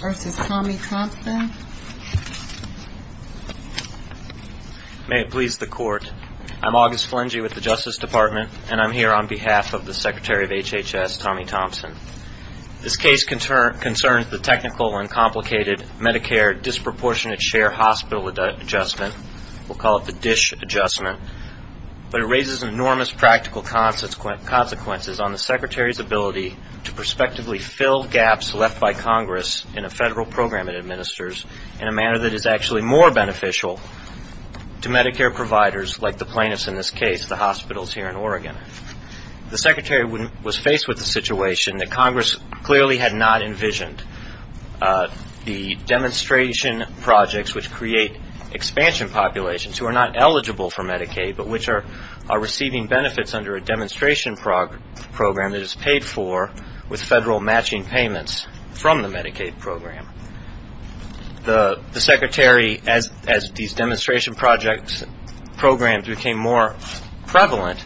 May it please the court. I'm August Flingy with the Justice Department and I'm here on behalf of the Secretary of HHS, Tommy Thompson. This case concerns the technical and complicated Medicare disproportionate share hospital adjustment. We'll call it the DISH adjustment. But it raises enormous practical consequences on the Secretary's ability to prospectively fill gaps left by Congress in a federal program it administers in a manner that is actually more beneficial to Medicare providers like the plaintiffs in this case, the hospitals here in Oregon. The Secretary was faced with the situation that Congress clearly had not envisioned. The demonstration projects which create expansion populations who are not eligible for Medicaid but which are receiving benefits under a demonstration program that is paid for with federal matching payments from the Medicaid program. The Secretary, as these demonstration projects, programs became more prevalent,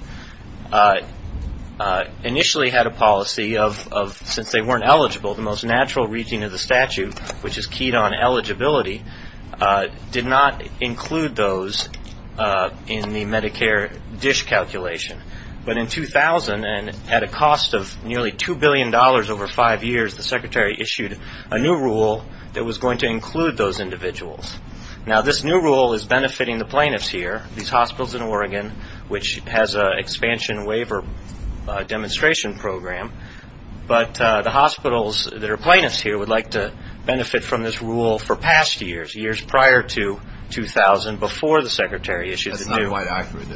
initially had a policy of since they weren't eligible, the most natural reading of the statute which is keyed on eligibility did not include those in the Medicare DISH calculation. But in 2000, and at a cost of nearly $2 billion over five years, the Secretary issued a new rule that was going to include those individuals. Now this new rule is benefiting the plaintiffs here, these hospitals in Oregon, which has an expansion waiver demonstration program. But the hospitals that are plaintiffs here would like to benefit from this rule for past years, years prior to 2000, before the Secretary issued the new rule.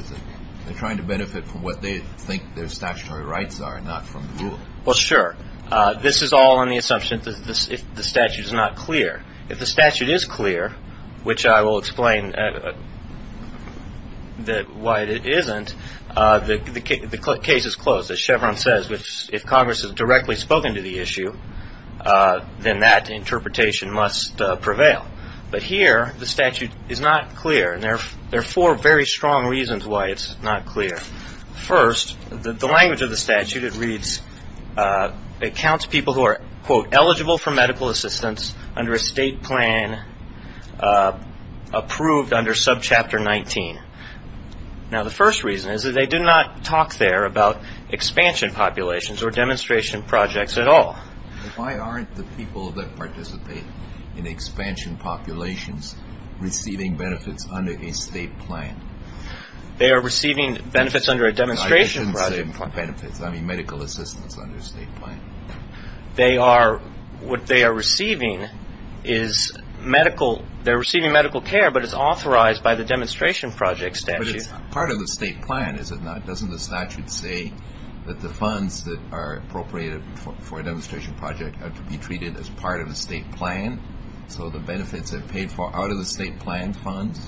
They're trying to benefit from what they think their statutory rights are, not from the rule. Well, sure. This is all on the assumption that the statute is not clear. If the statute is clear, which I will explain why it isn't, the case is closed. As Chevron says, if Congress has directly spoken to the issue, then that interpretation must prevail. But here, the statute is not clear, and there are four very strong reasons why it's not clear. First, the language of the statute, it reads, it counts people who are, quote, eligible for medical assistance under a state plan approved under subchapter 19. Now the first reason is that they did not talk there about expansion populations or demonstration projects at all. Why aren't the people that participate in expansion populations receiving benefits under a state plan? They are receiving benefits under a demonstration project. I didn't say benefits. I mean medical assistance under a state plan. They are, what they are receiving is medical, they're receiving medical care, but it's authorized by the demonstration project statute. Part of the state plan, is it not? Doesn't the statute say that the funds that are appropriated for a demonstration project have to be treated as part of a state plan? So the benefits are paid for out of the state plan funds?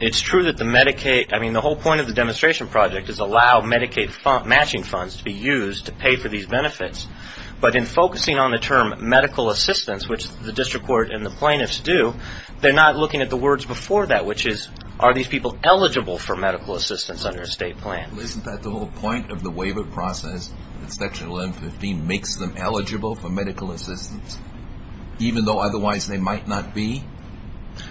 It's true that the Medicaid, I mean the whole point of the demonstration project is allow Medicaid matching funds to be used to pay for these benefits. But in focusing on the term medical assistance, which the district court and the plaintiffs do, they're not looking at the words before that, which is, are these people eligible for medical assistance under a state plan? Isn't that the whole point of the waiver process that section 1115 makes them eligible for medical assistance? Even though otherwise they might not be?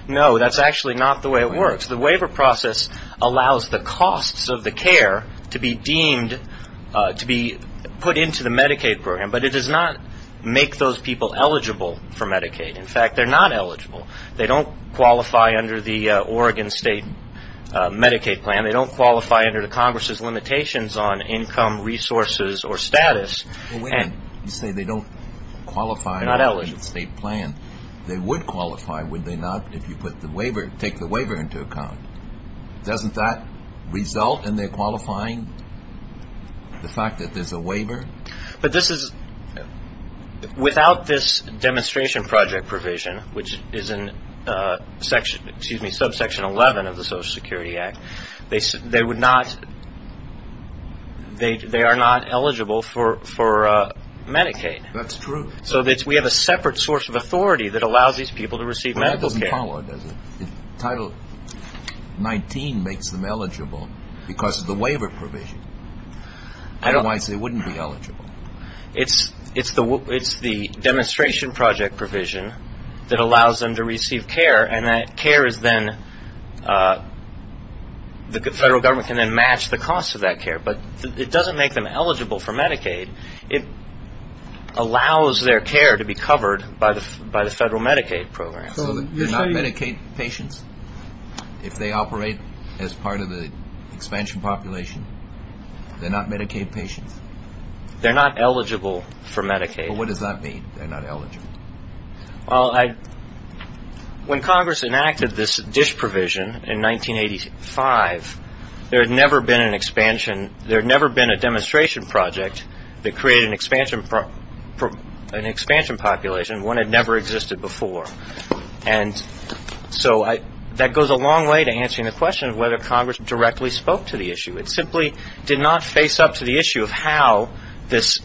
No, that's actually not the way it works. The waiver process allows the costs of the care to be deemed, to be put into the Medicaid program, but it does not make those people eligible for Medicaid. In fact, they're not eligible. They don't qualify under the Oregon state Medicaid plan. They don't qualify under the Congress's limitations on income, resources, or status. Well, wait a minute. You say they don't qualify under the state plan. They would qualify, would they not, if you put the waiver, take the waiver into account? Doesn't that result in their qualifying the fact that there's a waiver? Without this demonstration project provision, which is in subsection 11 of the Social Security Act, they are not eligible for Medicaid. That's true. So we have a separate source of authority that allows these people to receive medical care. Well, that doesn't follow, does it? Title 19 makes them eligible because of the waiver provision. Otherwise, they wouldn't be eligible. It's the demonstration project provision that allows them to receive care, and that care is then, the federal government can then match the cost of that care. But it doesn't make them eligible for Medicaid. It allows their care to be covered by the federal Medicaid program. So they're not Medicaid patients? If they operate as part of the expansion population, they're not Medicaid patients? They're not eligible for Medicaid. Well, what does that mean, they're not eligible? Well, when Congress enacted this DISH provision in 1985, there had never been an expansion, there had never been a demonstration project that created an expansion population. One had never existed before. And so that goes a long way to answering the question of whether Congress directly spoke to the issue. It simply did not face up to the issue of how this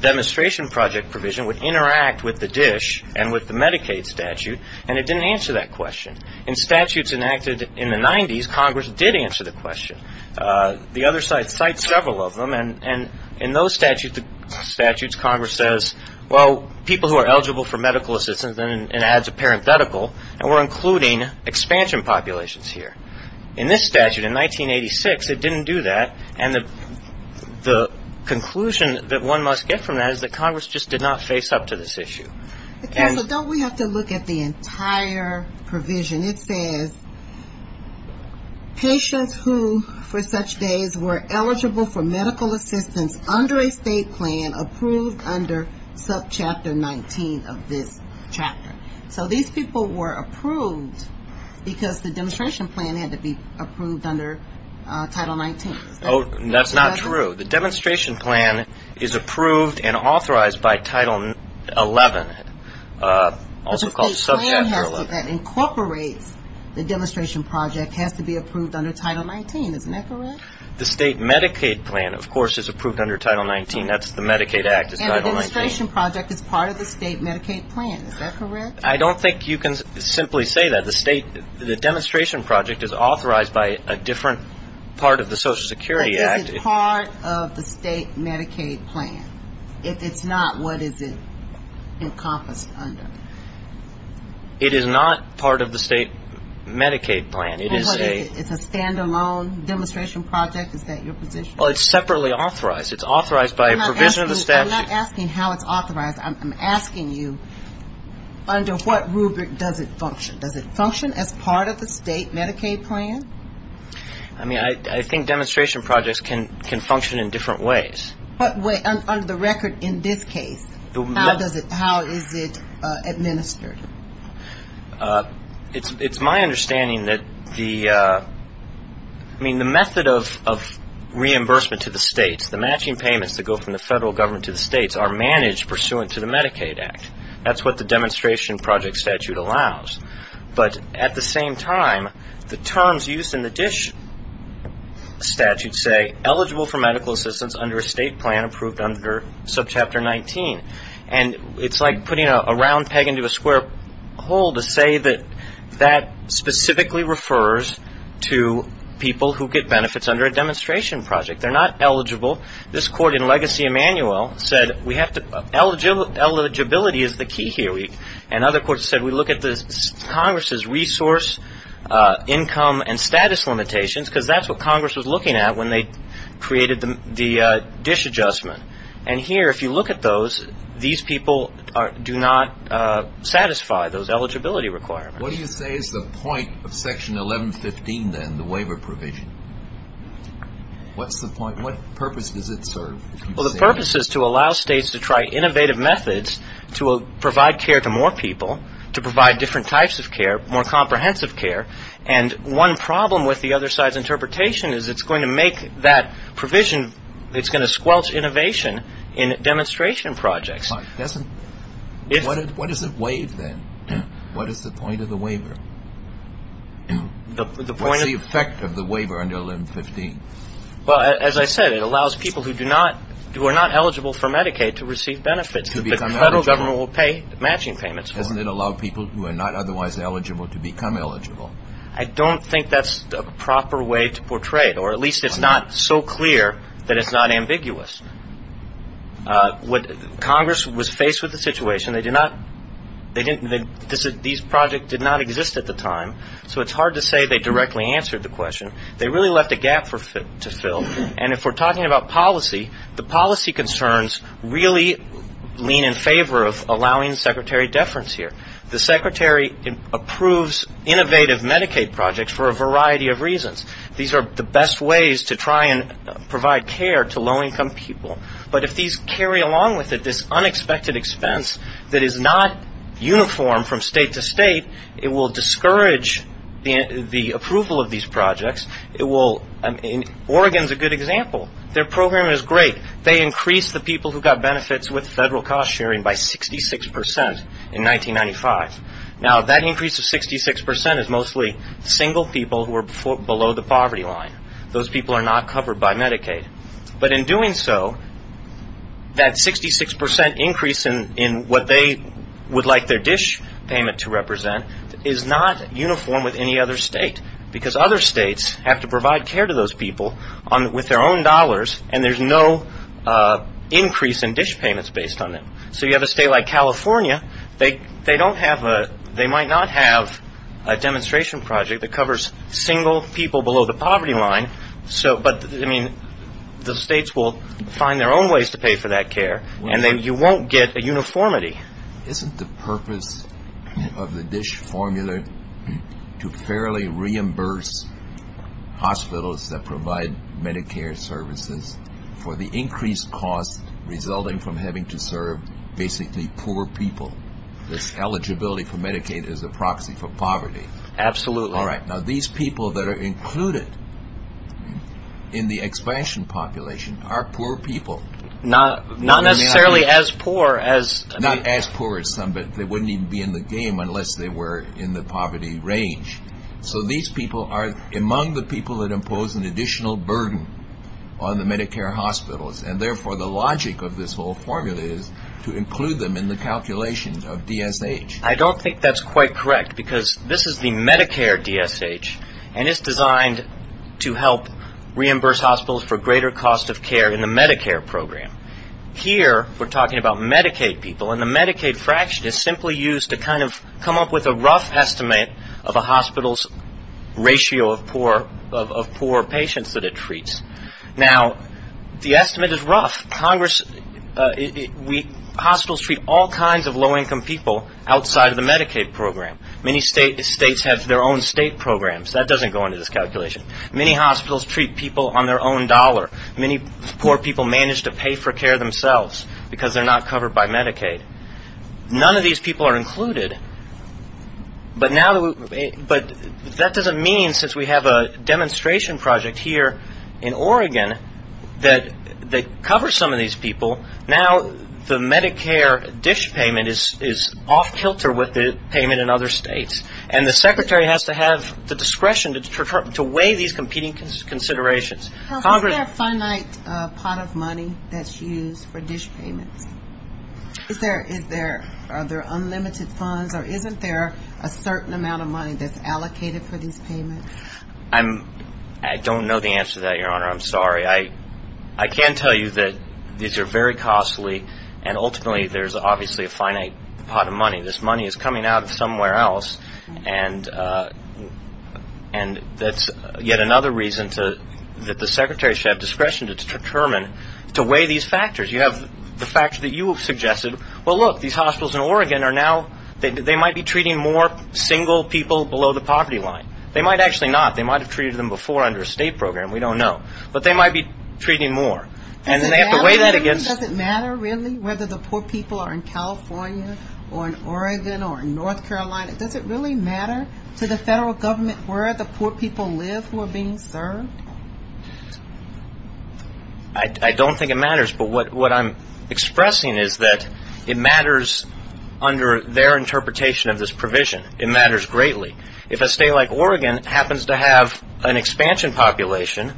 demonstration project provision would interact with the DISH and with the Medicaid statute, and it didn't answer that question. In statutes enacted in the 90s, Congress did answer the question. The other side cites several of them, and in those statutes, Congress says, well, people who are eligible for medical assistance, and it adds a parenthetical, and we're including expansion populations here. In this statute in 1986, it didn't do that, and the conclusion that one must get from that is that Congress just did not face up to this issue. Don't we have to look at the entire provision? It says patients who, for such days, were eligible for medical assistance under a state plan approved under subchapter 19 of this chapter. So these people were approved because the demonstration plan had to be approved under Title 19. That's not true. The demonstration plan is approved and authorized by Title 11, also called subchapter 11. But the state plan that incorporates the demonstration project has to be approved under Title 19. Isn't that correct? The state Medicaid plan, of course, is approved under Title 19. That's the Medicaid Act. And the demonstration project is part of the state Medicaid plan. Is that correct? I don't think you can simply say that. The demonstration project is authorized by a different part of the Social Security Act. Is it part of the state Medicaid plan? If it's not, what is it encompassed under? It is not part of the state Medicaid plan. It's a stand-alone demonstration project? Is that your position? Well, it's separately authorized. It's authorized by a provision of the statute. I'm not asking how it's authorized. I'm asking you under what rubric does it function? Does it function as part of the state Medicaid plan? I mean, I think demonstration projects can function in different ways. Under the record in this case, how is it administered? It's my understanding that the method of reimbursement to the states, the matching payments that go from the federal government to the states, are managed pursuant to the Medicaid Act. That's what the demonstration project statute allows. But at the same time, the terms used in the DISH statute say eligible for medical assistance under a state plan approved under subchapter 19. And it's like putting a round peg into a square hole to say that that specifically refers to people who get benefits under a demonstration project. They're not eligible. This court in Legacy Emanuel said we have to – eligibility is the key here. And other courts said we look at Congress's resource, income, and status limitations, because that's what Congress was looking at when they created the DISH adjustment. And here, if you look at those, these people do not satisfy those eligibility requirements. What do you say is the point of Section 1115, then, the waiver provision? What's the point? What purpose does it serve? Well, the purpose is to allow states to try innovative methods to provide care to more people, to provide different types of care, more comprehensive care. And one problem with the other side's interpretation is it's going to make that provision – it's going to squelch innovation in demonstration projects. What does it waive, then? What is the point of the waiver? What's the effect of the waiver under 1115? Well, as I said, it allows people who do not – who are not eligible for Medicaid to receive benefits. To become eligible. The federal government will pay matching payments for them. Doesn't it allow people who are not otherwise eligible to become eligible? I don't think that's a proper way to portray it, or at least it's not so clear that it's not ambiguous. Congress was faced with the situation. They did not – they didn't – these projects did not exist at the time, so it's hard to say they directly answered the question. They really left a gap to fill. And if we're talking about policy, the policy concerns really lean in favor of allowing secretary deference here. The secretary approves innovative Medicaid projects for a variety of reasons. These are the best ways to try and provide care to low-income people. But if these carry along with it this unexpected expense that is not uniform from state to state, it will discourage the approval of these projects. It will – Oregon is a good example. Their program is great. They increased the people who got benefits with federal cost sharing by 66% in 1995. Now, that increase of 66% is mostly single people who are below the poverty line. Those people are not covered by Medicaid. But in doing so, that 66% increase in what they would like their dish payment to represent is not uniform with any other state because other states have to provide care to those people with their own dollars, and there's no increase in dish payments based on that. So you have a state like California, they don't have a – they might not have a demonstration project that covers single people below the poverty line, but the states will find their own ways to pay for that care, and then you won't get a uniformity. Isn't the purpose of the dish formula to fairly reimburse hospitals that provide Medicare services for the increased cost resulting from having to serve basically poor people? This eligibility for Medicaid is a proxy for poverty. Absolutely. All right, now these people that are included in the expansion population are poor people. Not necessarily as poor as – Not as poor as some, but they wouldn't even be in the game unless they were in the poverty range. So these people are among the people that impose an additional burden on the Medicare hospitals, and therefore the logic of this whole formula is to include them in the calculations of DSH. I don't think that's quite correct because this is the Medicare DSH, and it's designed to help reimburse hospitals for greater cost of care in the Medicare program. Here we're talking about Medicaid people, and the Medicaid fraction is simply used to kind of come up with a rough estimate of a hospital's ratio of poor patients that it treats. Now, the estimate is rough. Hospitals treat all kinds of low-income people outside of the Medicaid program. Many states have their own state programs. That doesn't go into this calculation. Many hospitals treat people on their own dollar. Many poor people manage to pay for care themselves because they're not covered by Medicaid. None of these people are included, but that doesn't mean, since we have a demonstration project here in Oregon that covers some of these people, now the Medicare DSH payment is off-kilter with the payment in other states, and the secretary has to have the discretion to weigh these competing considerations. Is there a finite pot of money that's used for DSH payments? Are there unlimited funds, or isn't there a certain amount of money that's allocated for these payments? I don't know the answer to that, Your Honor. I'm sorry. I can tell you that these are very costly, and ultimately there's obviously a finite pot of money. This money is coming out of somewhere else, and that's yet another reason that the secretary should have discretion to determine to weigh these factors. You have the factors that you have suggested. Well, look, these hospitals in Oregon are now, they might be treating more single people below the poverty line. They might actually not. They might have treated them before under a state program. We don't know. But they might be treating more. Does it matter, really, whether the poor people are in California or in Oregon or in North Carolina? Does it really matter to the federal government where the poor people live who are being served? I don't think it matters, but what I'm expressing is that it matters under their interpretation of this provision. It matters greatly. If a state like Oregon happens to have an expansion population,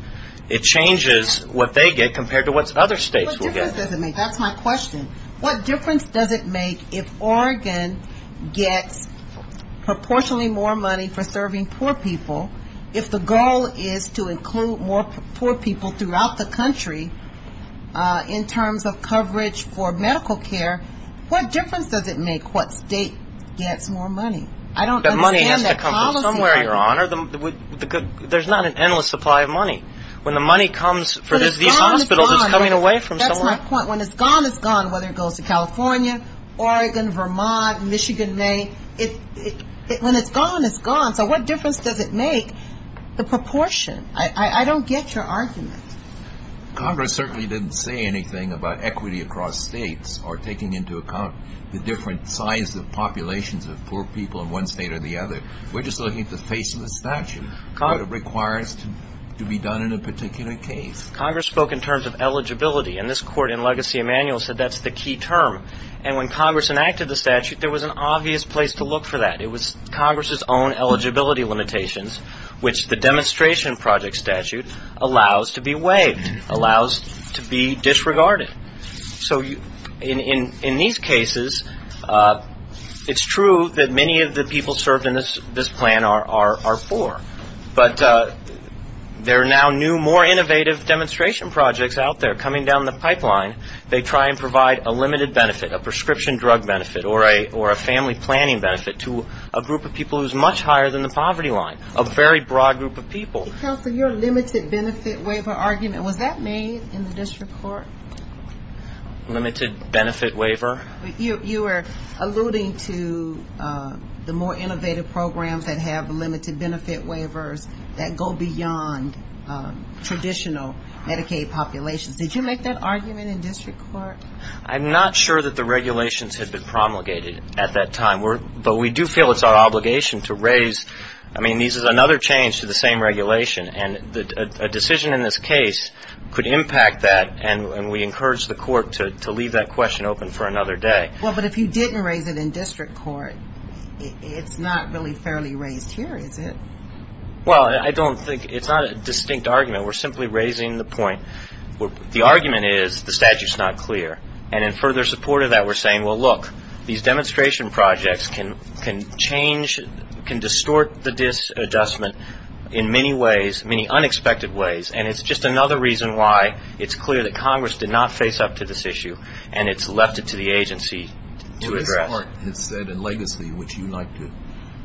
it changes what they get compared to what other states will get. What difference does it make? That's my question. What difference does it make if Oregon gets proportionally more money for serving poor people if the goal is to include more poor people throughout the country in terms of coverage for medical care? What difference does it make what state gets more money? I don't understand that policy. That money has to come from somewhere, Your Honor. There's not an endless supply of money. When the money comes for these hospitals, it's coming away from somewhere. That's my point. When it's gone, it's gone, whether it goes to California, Oregon, Vermont, Michigan, Maine. When it's gone, it's gone. So what difference does it make, the proportion? I don't get your argument. Congress certainly didn't say anything about equity across states or taking into account the different size of populations of poor people in one state or the other. We're just looking at the face of the statute, what it requires to be done in a particular case. Congress spoke in terms of eligibility, and this Court in Legacy Emanuel said that's the key term. And when Congress enacted the statute, there was an obvious place to look for that. It was Congress's own eligibility limitations, which the demonstration project statute allows to be waived, allows to be disregarded. So in these cases, it's true that many of the people served in this plan are poor, but there are now new, more innovative demonstration projects out there coming down the pipeline. They try and provide a limited benefit, a prescription drug benefit or a family planning benefit to a group of people who's much higher than the poverty line, a very broad group of people. Counsel, your limited benefit waiver argument, was that made in the district court? Limited benefit waiver? You were alluding to the more innovative programs that have limited benefit waivers that go beyond traditional Medicaid populations. Did you make that argument in district court? I'm not sure that the regulations had been promulgated at that time, but we do feel it's our obligation to raise ñ I mean, this is another change to the same regulation, and a decision in this case could impact that, and we encourage the court to leave that question open for another day. Well, but if you didn't raise it in district court, it's not really fairly raised here, is it? Well, I don't think ñ it's not a distinct argument. We're simply raising the point ñ the argument is the statute's not clear, and in further support of that we're saying, well, look, these demonstration projects can change, can distort the adjustment in many ways, many unexpected ways, and it's just another reason why it's clear that Congress did not face up to this issue and it's left it to the agency to address. The court has said in legacy, which you like to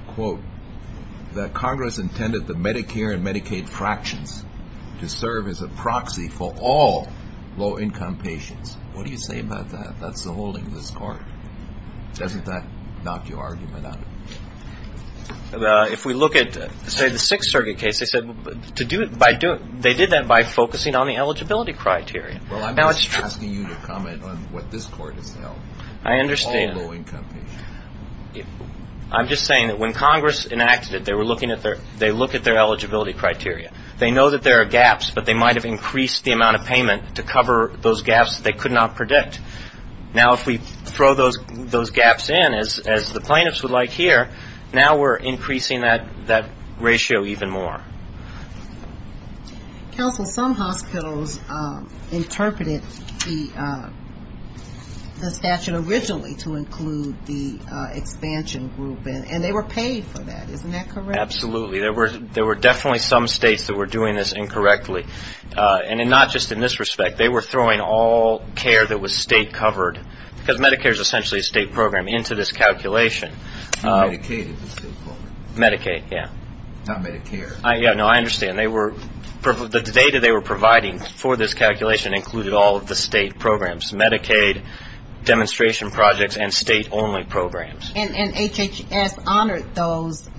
quote, that Congress intended the Medicare and Medicaid fractions to serve as a proxy for all low-income patients. What do you say about that? That's the holding of this court. Doesn't that knock your argument out? If we look at, say, the Sixth Circuit case, they said to do it by ñ they did that by focusing on the eligibility criteria. Well, I'm just asking you to comment on what this court has held. I understand. All low-income patients. I'm just saying that when Congress enacted it, they were looking at their ñ they look at their eligibility criteria. They know that there are gaps, but they might have increased the amount of payment to cover those gaps they could not predict. Now, if we throw those gaps in, as the plaintiffs would like here, now we're increasing that ratio even more. Counsel, some hospitals interpreted the statute originally to include the expansion group, and they were paid for that. Isn't that correct? Absolutely. There were definitely some states that were doing this incorrectly. And not just in this respect. They were throwing all care that was state-covered, because Medicare is essentially a state program, into this calculation. Medicaid is a state program. Medicaid, yeah. Not Medicare. Yeah, no, I understand. They were ñ the data they were providing for this calculation included all of the state programs, Medicaid, demonstration projects, and state-only programs. And HHS honored those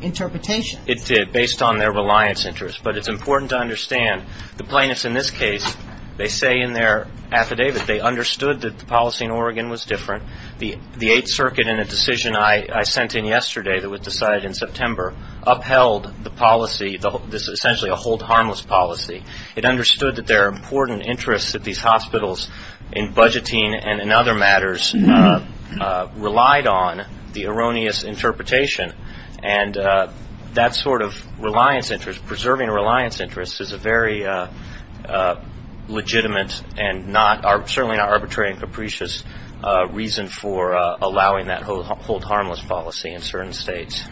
interpretations. It did, based on their reliance interest. But it's important to understand the plaintiffs in this case, they say in their affidavit, they understood that the policy in Oregon was different. The Eighth Circuit in a decision I sent in yesterday that was decided in September upheld the policy, essentially a hold harmless policy. It understood that there are important interests that these hospitals in budgeting and in other matters relied on the erroneous interpretation. And that sort of reliance interest, preserving a reliance interest, is a very legitimate and certainly not arbitrary and capricious reason for allowing that hold harmless policy in certain states.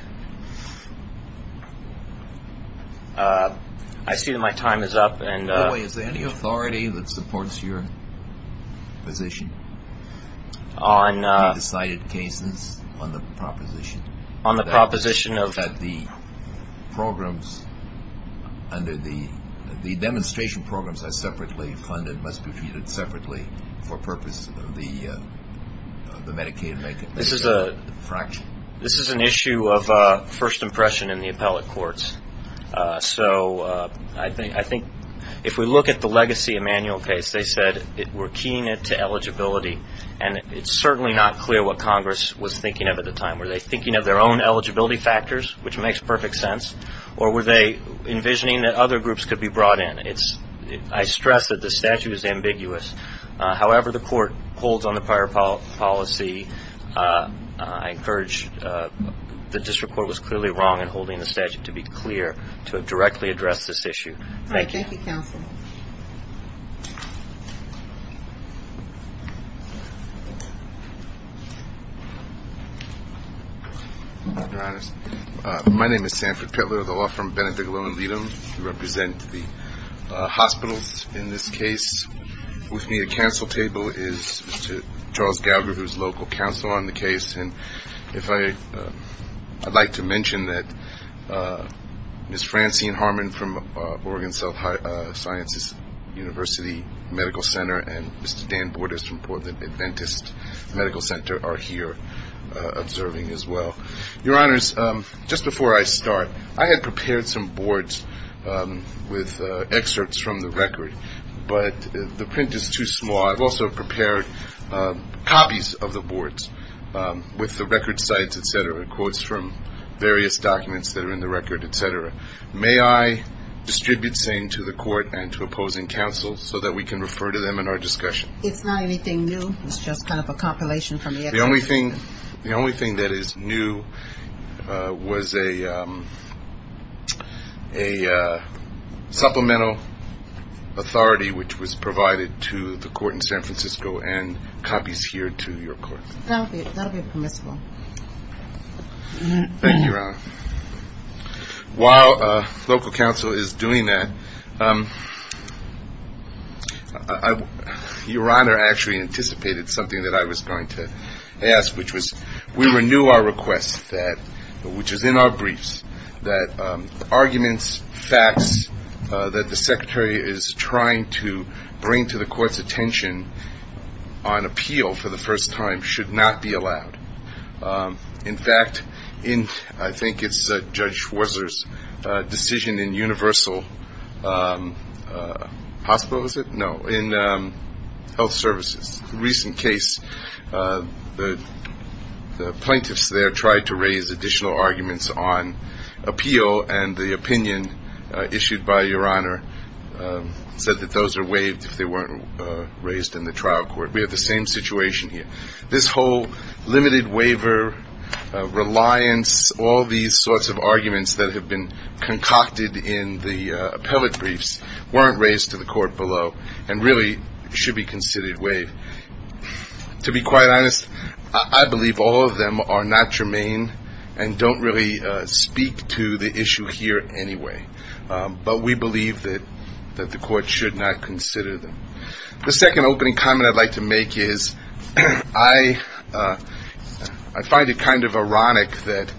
I see that my time is up. By the way, is there any authority that supports your position on the decided cases, on the proposition that the programs under the ñ that it must be treated separately for purposes of the Medicaid fraction? This is an issue of first impression in the appellate courts. So I think if we look at the Legacy Emanuel case, they said we're keying it to eligibility, and it's certainly not clear what Congress was thinking of at the time. Were they thinking of their own eligibility factors, which makes perfect sense, or were they envisioning that other groups could be brought in? I stress that the statute is ambiguous. However the court holds on the prior policy, I encourage the district court was clearly wrong in holding the statute to be clear to directly address this issue. Thank you. Thank you, counsel. My name is Sanford Pittler of the law firm Benedict Lohenrieder. We represent the hospitals in this case. With me at the counsel table is Mr. Charles Gallagher, who is local counsel on the case. And if I ñ I'd like to mention that Ms. Francine Harmon from Oregon South Sciences University Medical Center and Mr. Dan Borders from Portland Adventist Medical Center are here observing as well. Your Honors, just before I start, I had prepared some boards with excerpts from the record, but the print is too small. I've also prepared copies of the boards with the record sites, et cetera, quotes from various documents that are in the record, et cetera. May I distribute same to the court and to opposing counsel so that we can refer to them in our discussion? It's not anything new. It's just kind of a compilation from the records. The only thing that is new was a supplemental authority, which was provided to the court in San Francisco and copies here to your court. Thank you, Your Honor. While local counsel is doing that, Your Honor, I actually anticipated something that I was going to ask, which was we renew our request, which is in our briefs, that arguments, facts, that the secretary is trying to bring to the court's attention on appeal for the first time should not be allowed. In fact, I think it's Judge Schwarzer's decision in universal hospital, is it? No, in health services. In a recent case, the plaintiffs there tried to raise additional arguments on appeal, and the opinion issued by Your Honor said that those are waived if they weren't raised in the trial court. We have the same situation here. This whole limited waiver, reliance, all these sorts of arguments that have been concocted in the appellate briefs weren't raised to the court below and really should be considered waived. To be quite honest, I believe all of them are not germane and don't really speak to the issue here anyway, but we believe that the court should not consider them. The second opening comment I'd like to make is I find it kind of ironic that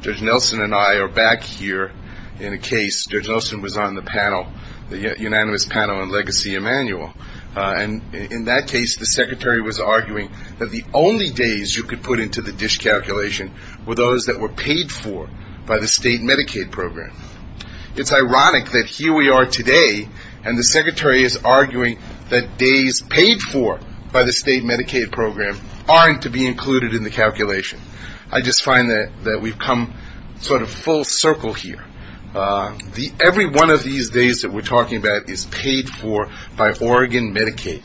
Judge Nelson and I are back here in a case. Judge Nelson was on the panel, the unanimous panel on Legacy Emanuel, and in that case the secretary was arguing that the only days you could put into the dish calculation were those that were paid for by the state Medicaid program. It's ironic that here we are today and the secretary is arguing that days paid for by the state Medicaid program aren't to be included in the calculation. I just find that we've come sort of full circle here. Every one of these days that we're talking about is paid for by Oregon Medicaid.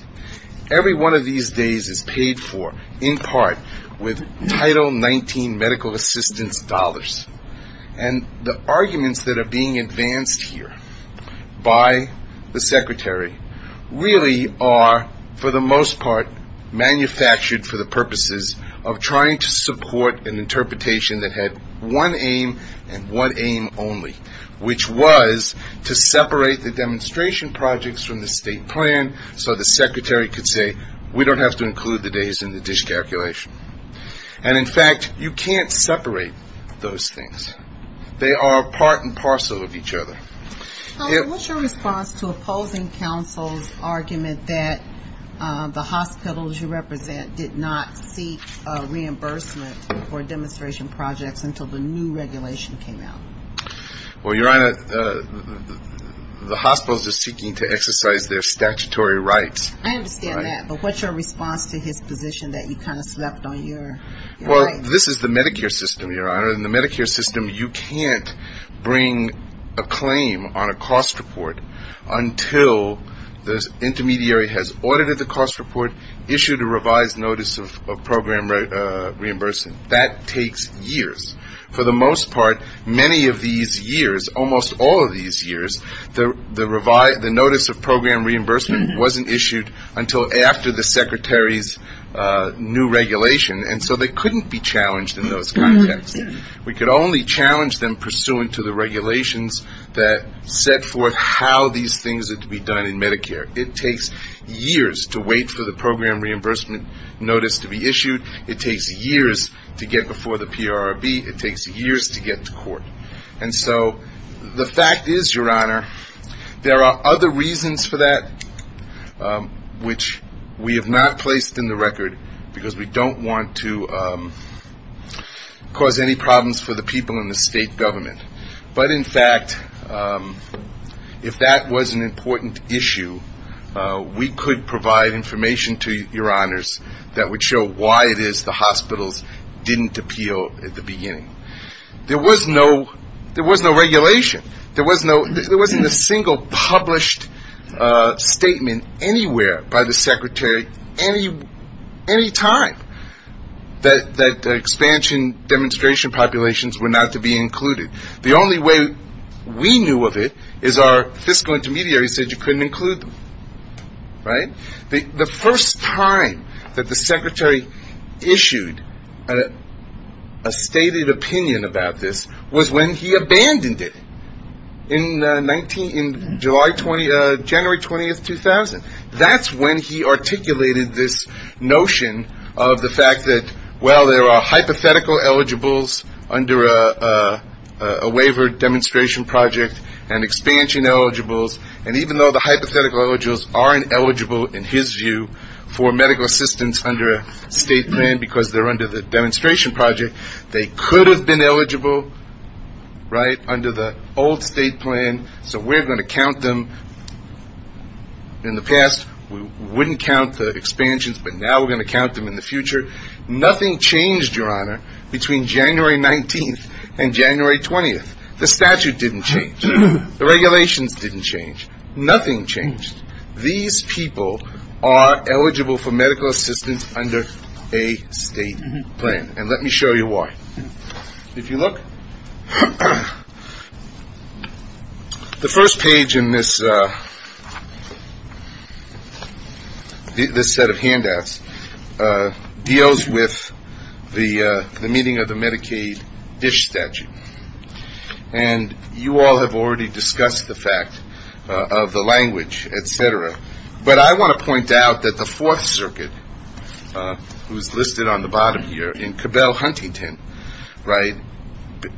Every one of these days is paid for in part with Title 19 medical assistance dollars. And the arguments that are being advanced here by the secretary really are, for the most part, manufactured for the purposes of trying to support an interpretation that had one aim and one aim only, which was to separate the demonstration projects from the state plan so the secretary could say, we don't have to include the days in the dish calculation. And, in fact, you can't separate those things. They are part and parcel of each other. What's your response to opposing counsel's argument that the hospitals you represent did not seek reimbursement for demonstration projects until the new regulation came out? Well, Your Honor, the hospitals are seeking to exercise their statutory rights. I understand that, but what's your response to his position that you kind of slept on your rights? Well, this is the Medicare system, Your Honor. In the Medicare system, you can't bring a claim on a cost report until the intermediary has audited the cost report, issued a revised notice of program reimbursement. That takes years. For the most part, many of these years, almost all of these years, the notice of program reimbursement wasn't issued until after the secretary's new regulation, and so they couldn't be challenged in those contexts. We could only challenge them pursuant to the regulations that set forth how these things are to be done in Medicare. It takes years to wait for the program reimbursement notice to be issued. It takes years to get before the PRRB. It takes years to get to court. And so the fact is, Your Honor, there are other reasons for that which we have not placed in the record because we don't want to cause any problems for the people in the state government. But, in fact, if that was an important issue, we could provide information to Your Honors that would show why it is the hospitals didn't appeal at the beginning. There was no regulation. There wasn't a single published statement anywhere by the secretary any time that expansion demonstration populations were not to be included. The only way we knew of it is our fiscal intermediary said you couldn't include them, right? The first time that the secretary issued a stated opinion about this was when he abandoned it in January 20, 2000. That's when he articulated this notion of the fact that, well, there are hypothetical eligibles under a waiver demonstration project and expansion eligibles, and even though the hypothetical eligibles aren't eligible in his view for medical assistance under a state plan because they're under the demonstration project, they could have been eligible, right, under the old state plan, so we're going to count them in the past. We wouldn't count the expansions, but now we're going to count them in the future. Nothing changed, Your Honor, between January 19 and January 20. The statute didn't change. The regulations didn't change. Nothing changed. These people are eligible for medical assistance under a state plan, and let me show you why. If you look, the first page in this set of handouts deals with the meeting of the Medicaid DISH statute, and you all have already discussed the fact of the language, et cetera, but I want to point out that the Fourth Circuit, who's listed on the bottom here, in Cabell Huntington, right,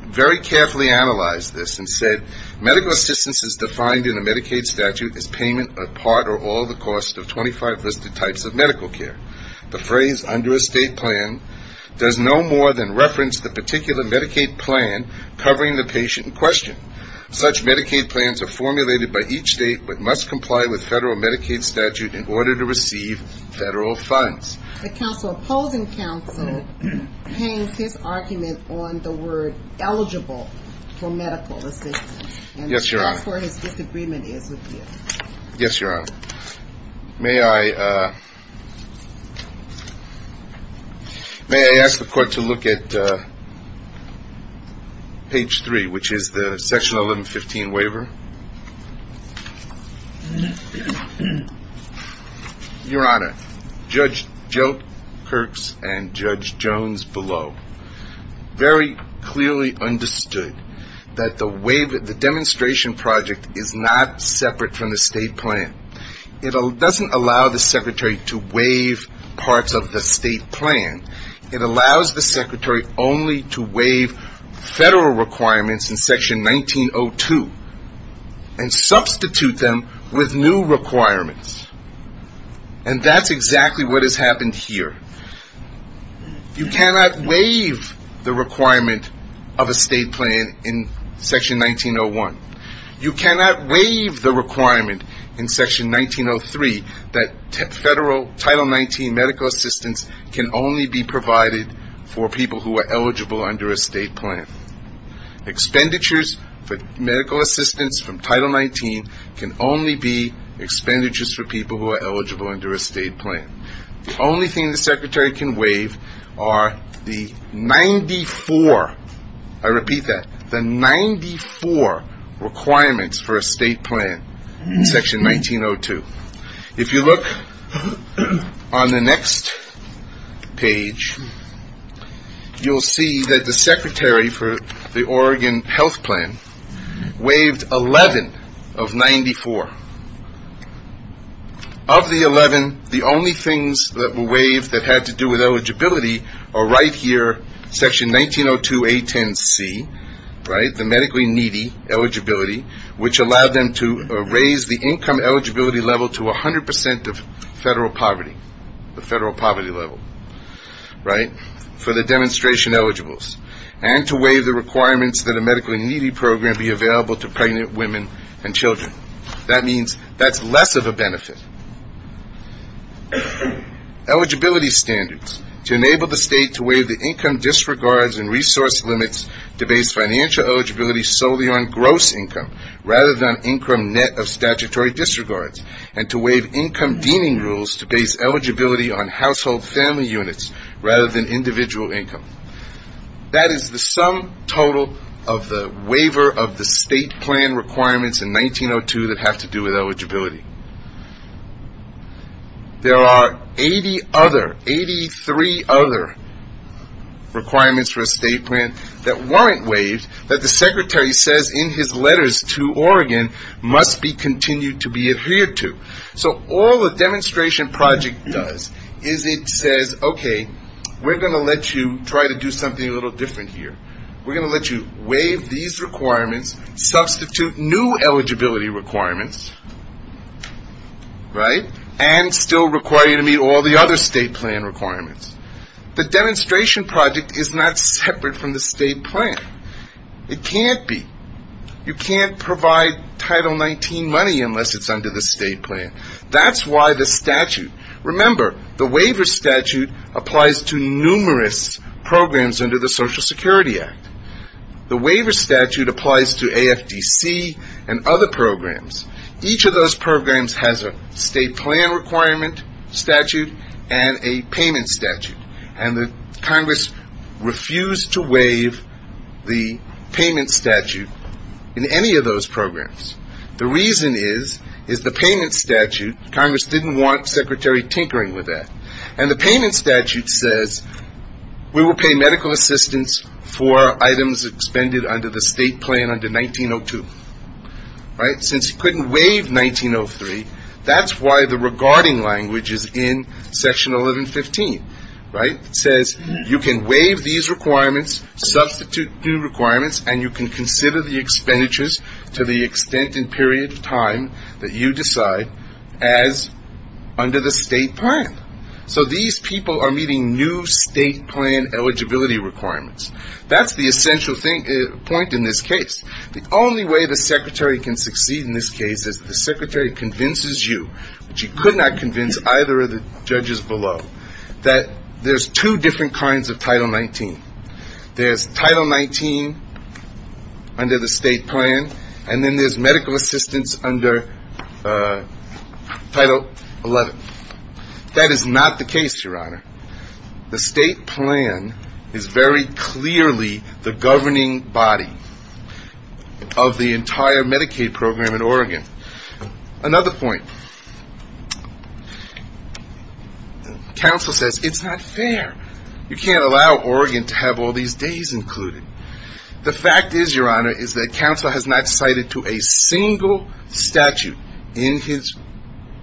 very carefully analyzed this and said, medical assistance is defined in a Medicaid statute as payment of part or all the cost of 25 listed types of medical care. The phrase under a state plan does no more than reference the particular Medicaid plan covering the patient in question. Such Medicaid plans are formulated by each state but must comply with federal Medicaid statute in order to receive federal funds. The opposing counsel hangs his argument on the word eligible for medical assistance. Yes, Your Honor. And that's where his disagreement is with you. Yes, Your Honor. May I ask the Court to look at page 3, which is the Section 1115 waiver? Your Honor, Judge Joe Kirks and Judge Jones below very clearly understood that the demonstration project is not separate from the state plan. It doesn't allow the secretary to waive parts of the state plan. It allows the secretary only to waive federal requirements in Section 1902 and substitute them with new requirements. And that's exactly what has happened here. You cannot waive the requirement of a state plan in Section 1901. You cannot waive the requirement in Section 1903 that Title 19 medical assistance can only be provided for people who are eligible under a state plan. Expenditures for medical assistance from Title 19 can only be expenditures for people who are eligible under a state plan. The only thing the secretary can waive are the 94, I repeat that, the 94 requirements for a state plan in Section 1902. If you look on the next page, you'll see that the secretary for the Oregon health plan waived 11 of 94. Of the 11, the only things that were waived that had to do with eligibility are right here, Section 1902A10C, right, the medically needy eligibility, which allowed them to raise the income eligibility level to 100% of federal poverty, the federal poverty level, right, for the demonstration eligibles. And to waive the requirements that a medically needy program be available to pregnant women and children. That means that's less of a benefit. Eligibility standards, to enable the state to waive the income disregards and resource limits to base financial eligibility solely on gross income, rather than on income net of statutory disregards, and to waive income deeming rules to base eligibility on household family units, rather than individual income. That is the sum total of the waiver of the state plan requirements in 1902 that have to do with eligibility. There are 80 other, 83 other requirements for a state plan that weren't waived that the secretary says in his letters to Oregon must be continued to be adhered to. So all the demonstration project does is it says, okay, we're going to let you try to do something a little different here. We're going to let you waive these requirements, substitute new eligibility requirements, right, and still require you to meet all the other state plan requirements. The demonstration project is not separate from the state plan. It can't be. You can't provide Title 19 money unless it's under the state plan. That's why the statute, remember, the waiver statute applies to numerous programs under the Social Security Act. The waiver statute applies to AFDC and other programs. Each of those programs has a state plan requirement statute and a payment statute, and Congress refused to waive the payment statute in any of those programs. The reason is, is the payment statute, Congress didn't want Secretary tinkering with that, and the payment statute says we will pay medical assistance for items expended under the state plan under 1902. Right? Since you couldn't waive 1903, that's why the regarding language is in Section 1115, right? It says you can waive these requirements, substitute new requirements, and you can consider the expenditures to the extent and period of time that you decide as under the state plan. So these people are meeting new state plan eligibility requirements. That's the essential point in this case. The only way the Secretary can succeed in this case is the Secretary convinces you, which he could not convince either of the judges below, that there's two different kinds of Title 19. There's Title 19 under the state plan, and then there's medical assistance under Title 11. That is not the case, Your Honor. The state plan is very clearly the governing body of the entire Medicaid program in Oregon. Another point, counsel says it's not fair. You can't allow Oregon to have all these days included. The fact is, Your Honor, is that counsel has not cited to a single statute in his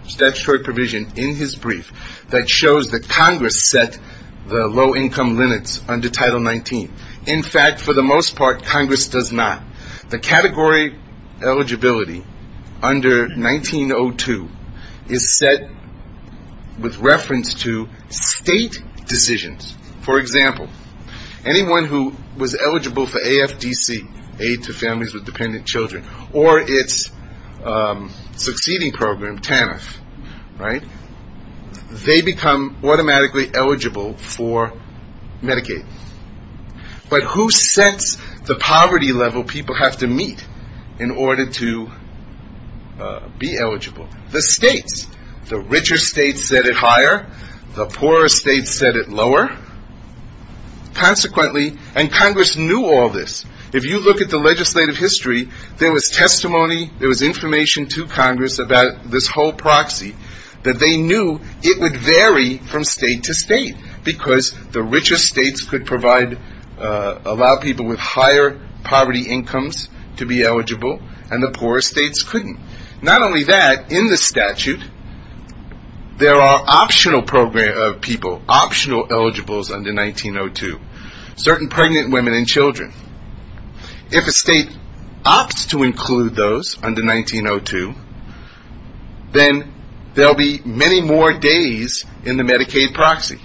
statutory provision in his brief that shows that Congress set the low-income limits under Title 19. In fact, for the most part, Congress does not. The category eligibility under 1902 is set with reference to state decisions. For example, anyone who was eligible for AFDC, Aid to Families with Dependent Children, or its succeeding program, TANF, right, they become automatically eligible for Medicaid. But who sets the poverty level people have to meet in order to be eligible? The states. The richer states set it higher. The poorer states set it lower. Consequently, and Congress knew all this. If you look at the legislative history, there was testimony, there was information to Congress about this whole proxy, that they knew it would vary from state to state, because the richer states could allow people with higher poverty incomes to be eligible, and the poorer states couldn't. Not only that, in the statute, there are optional people, optional eligibles under 1902, certain pregnant women and children. If a state opts to include those under 1902, then there will be many more days in the Medicaid proxy.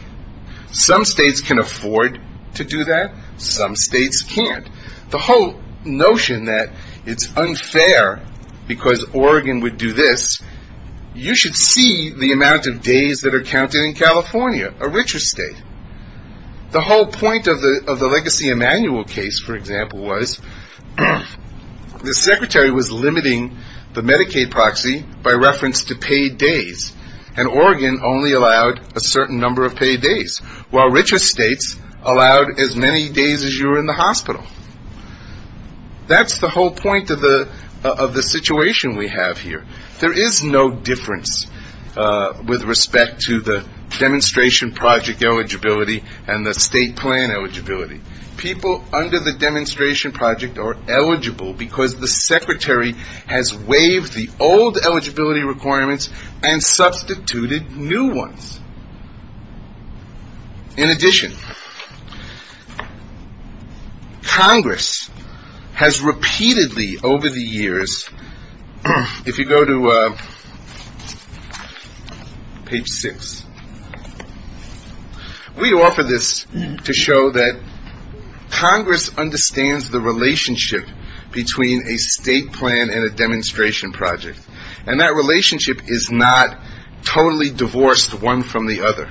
Some states can afford to do that. Some states can't. The whole notion that it's unfair because Oregon would do this, you should see the amount of days that are counted in California, a richer state. The whole point of the Legacy Emanuel case, for example, was the secretary was limiting the Medicaid proxy by reference to paid days, and Oregon only allowed a certain number of paid days, while richer states allowed as many days as you were in the hospital. That's the whole point of the situation we have here. There is no difference with respect to the demonstration project eligibility and the state plan eligibility. People under the demonstration project are eligible because the secretary has waived the old eligibility requirements and substituted new ones. In addition, Congress has repeatedly over the years, if you go to page six, we offer this to show that Congress understands the relationship between a state plan and a demonstration project, and that relationship is not totally divorced one from the other.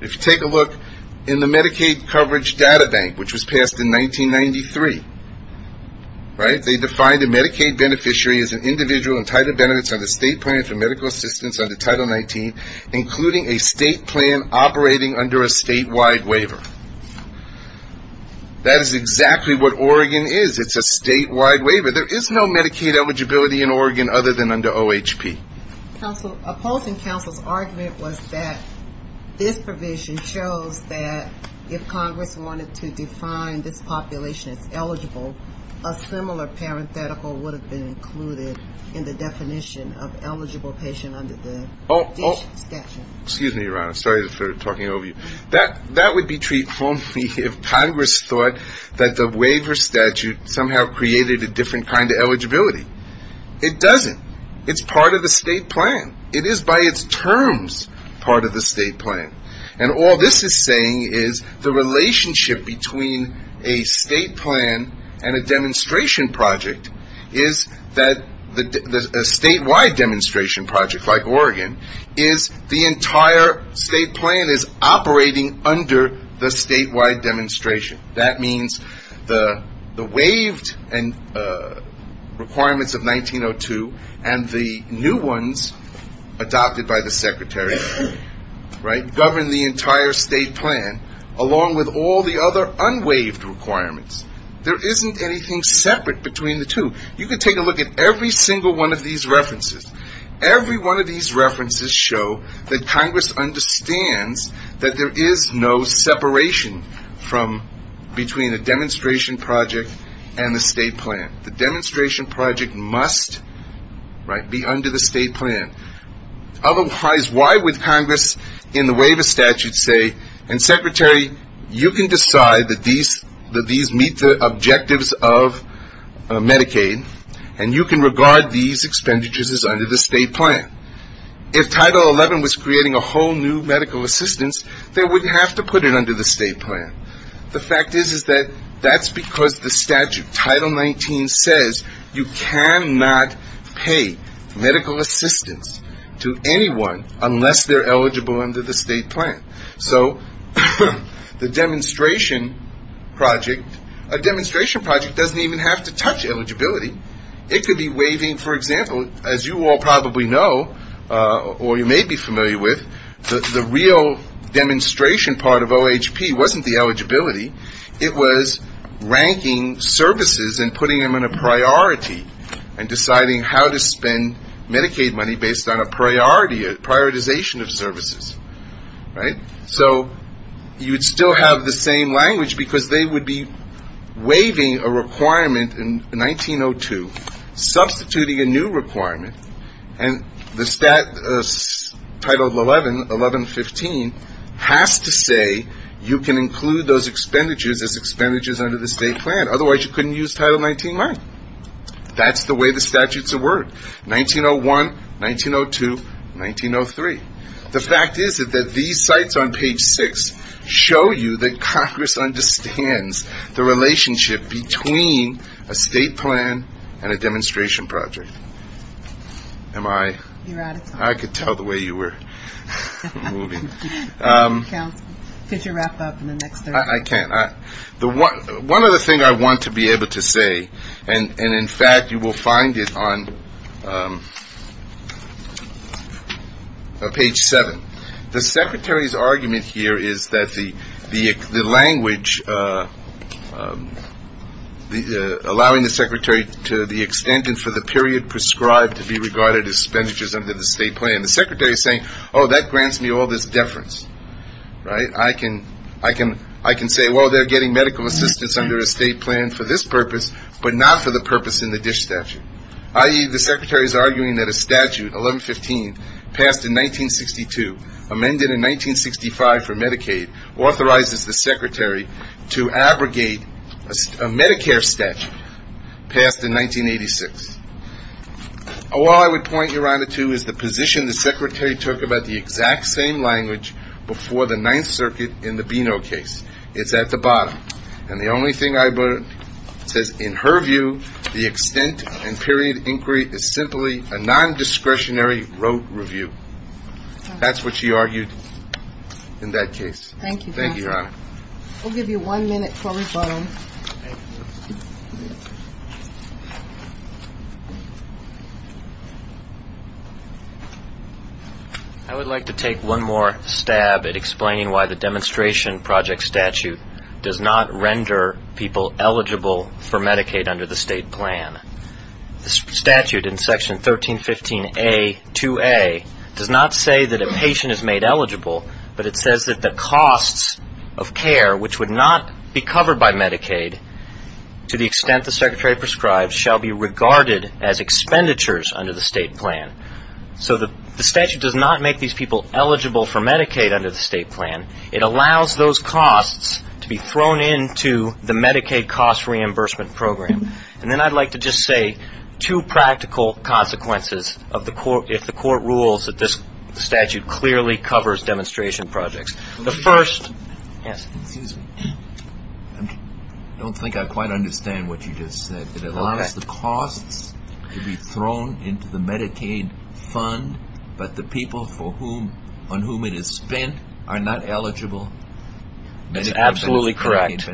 If you take a look in the Medicaid Coverage Data Bank, which was passed in 1993, right, they defined a Medicaid beneficiary as an individual entitled to benefits under state plan for medical assistance under Title 19, including a state plan operating under a statewide waiver. That is exactly what Oregon is. It's a statewide waiver. There is no Medicaid eligibility in Oregon other than under OHP. Opposing counsel's argument was that this provision shows that if Congress wanted to define this population as eligible, a similar parenthetical would have been included in the definition of eligible patient under the statute. Excuse me, Your Honor. Sorry for talking over you. That would be treated only if Congress thought that the waiver statute somehow created a different kind of eligibility. It doesn't. It's part of the state plan. It is by its terms part of the state plan. And all this is saying is the relationship between a state plan and a demonstration project is that a statewide demonstration project, like Oregon, is the entire state plan is operating under the statewide demonstration. That means the waived requirements of 1902 and the new ones adopted by the Secretary, right, govern the entire state plan along with all the other unwaived requirements. There isn't anything separate between the two. You can take a look at every single one of these references. Every one of these references show that Congress understands that there is no separation from between a demonstration project and the state plan. The demonstration project must, right, be under the state plan. Otherwise, why would Congress in the waiver statute say, and, Secretary, you can decide that these meet the objectives of Medicaid, and you can regard these expenditures as under the state plan. If Title 11 was creating a whole new medical assistance, they would have to put it under the state plan. The fact is that that's because the statute, Title 19, says you cannot pay medical assistance to anyone unless they're eligible under the state plan. So the demonstration project, a demonstration project doesn't even have to touch eligibility. It could be waiving, for example, as you all probably know or you may be familiar with, the real demonstration part of OHP wasn't the eligibility. It was ranking services and putting them in a priority and deciding how to spend Medicaid money based on a priority, a prioritization of services, right? So you'd still have the same language because they would be waiving a requirement in 1902, substituting a new requirement, and the statute, Title 11, 1115, has to say you can include those expenditures as expenditures under the state plan. Otherwise, you couldn't use Title 19-1. That's the way the statutes have worked, 1901, 1902, 1903. The fact is that these sites on page 6 show you that Congress understands the relationship between a state plan and a demonstration project. Am I? I could tell the way you were moving. One other thing I want to be able to say, and, in fact, you will find it on page 7. The Secretary's argument here is that the language allowing the Secretary to the extent and for the period prescribed to be regarded as expenditures under the state plan. The Secretary is saying, oh, that grants me all this deference, right? I can say, well, they're getting medical assistance under a state plan for this purpose, but not for the purpose in the DISH statute. I.e., the Secretary is arguing that a statute, 1115, passed in 1962, amended in 1965 for Medicaid, authorizes the Secretary to abrogate a Medicare statute passed in 1986. All I would point you, Your Honor, to is the position the Secretary took about the exact same language before the Ninth Circuit in the Bino case. It's at the bottom. And the only thing I would say is, in her view, the extent and period inquiry is simply a nondiscretionary rote review. That's what she argued in that case. Thank you. Thank you, Your Honor. I'll give you one minute for rebuttal. I would like to take one more stab at explaining why the demonstration project statute does not render people eligible for Medicaid under the state plan. The statute in Section 1315A-2A does not say that a patient is made eligible, but it says that the costs of care which would not be covered by Medicaid, to the extent the Secretary prescribes, shall be regarded as expenditures under the state plan. So the statute does not make these people eligible for Medicaid under the state plan. It allows those costs to be thrown into the Medicaid cost reimbursement program. And then I'd like to just say two practical consequences if the court rules that this statute clearly covers demonstration projects. The first – yes. Excuse me. I don't think I quite understand what you just said. It allows the costs to be thrown into the Medicaid fund, but the people on whom it is spent are not eligible Medicaid beneficiaries. That's absolutely correct.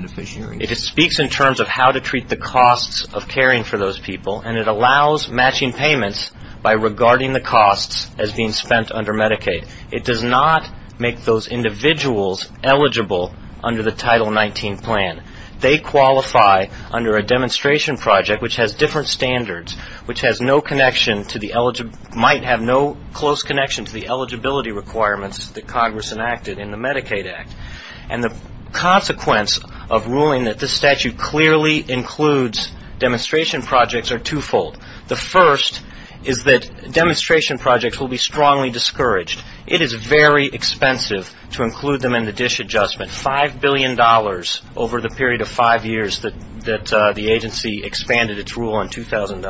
It speaks in terms of how to treat the costs of caring for those people, and it allows matching payments by regarding the costs as being spent under Medicaid. It does not make those individuals eligible under the Title 19 plan. They qualify under a demonstration project which has different standards, which might have no close connection to the eligibility requirements that Congress enacted in the Medicaid Act. And the consequence of ruling that this statute clearly includes demonstration projects are twofold. The first is that demonstration projects will be strongly discouraged. It is very expensive to include them in the dish adjustment, $5 billion over the period of five years that the agency expanded its rule in 2000.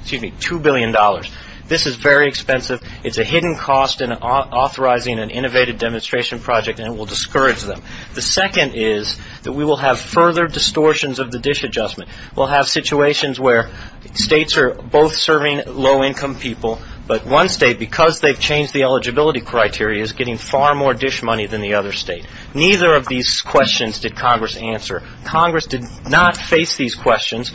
Excuse me, $2 billion. This is very expensive. It's a hidden cost in authorizing an innovative demonstration project, and it will discourage them. The second is that we will have further distortions of the dish adjustment. We'll have situations where states are both serving low-income people, but one state, because they've changed the eligibility criteria, is getting far more dish money than the other state. Neither of these questions did Congress answer. Congress did not face these questions,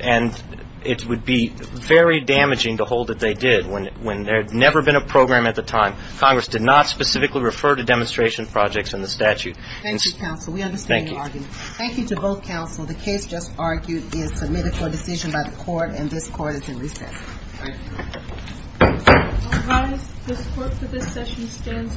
and it would be very damaging to hold that they did. When there had never been a program at the time, Congress did not specifically refer to demonstration projects in the statute. Thank you, counsel. We understand your argument. Thank you. Thank you to both counsel. The case just argued is submitted for decision by the court, and this court is in recess. Thank you. All rise. This court for this session stands adjourned.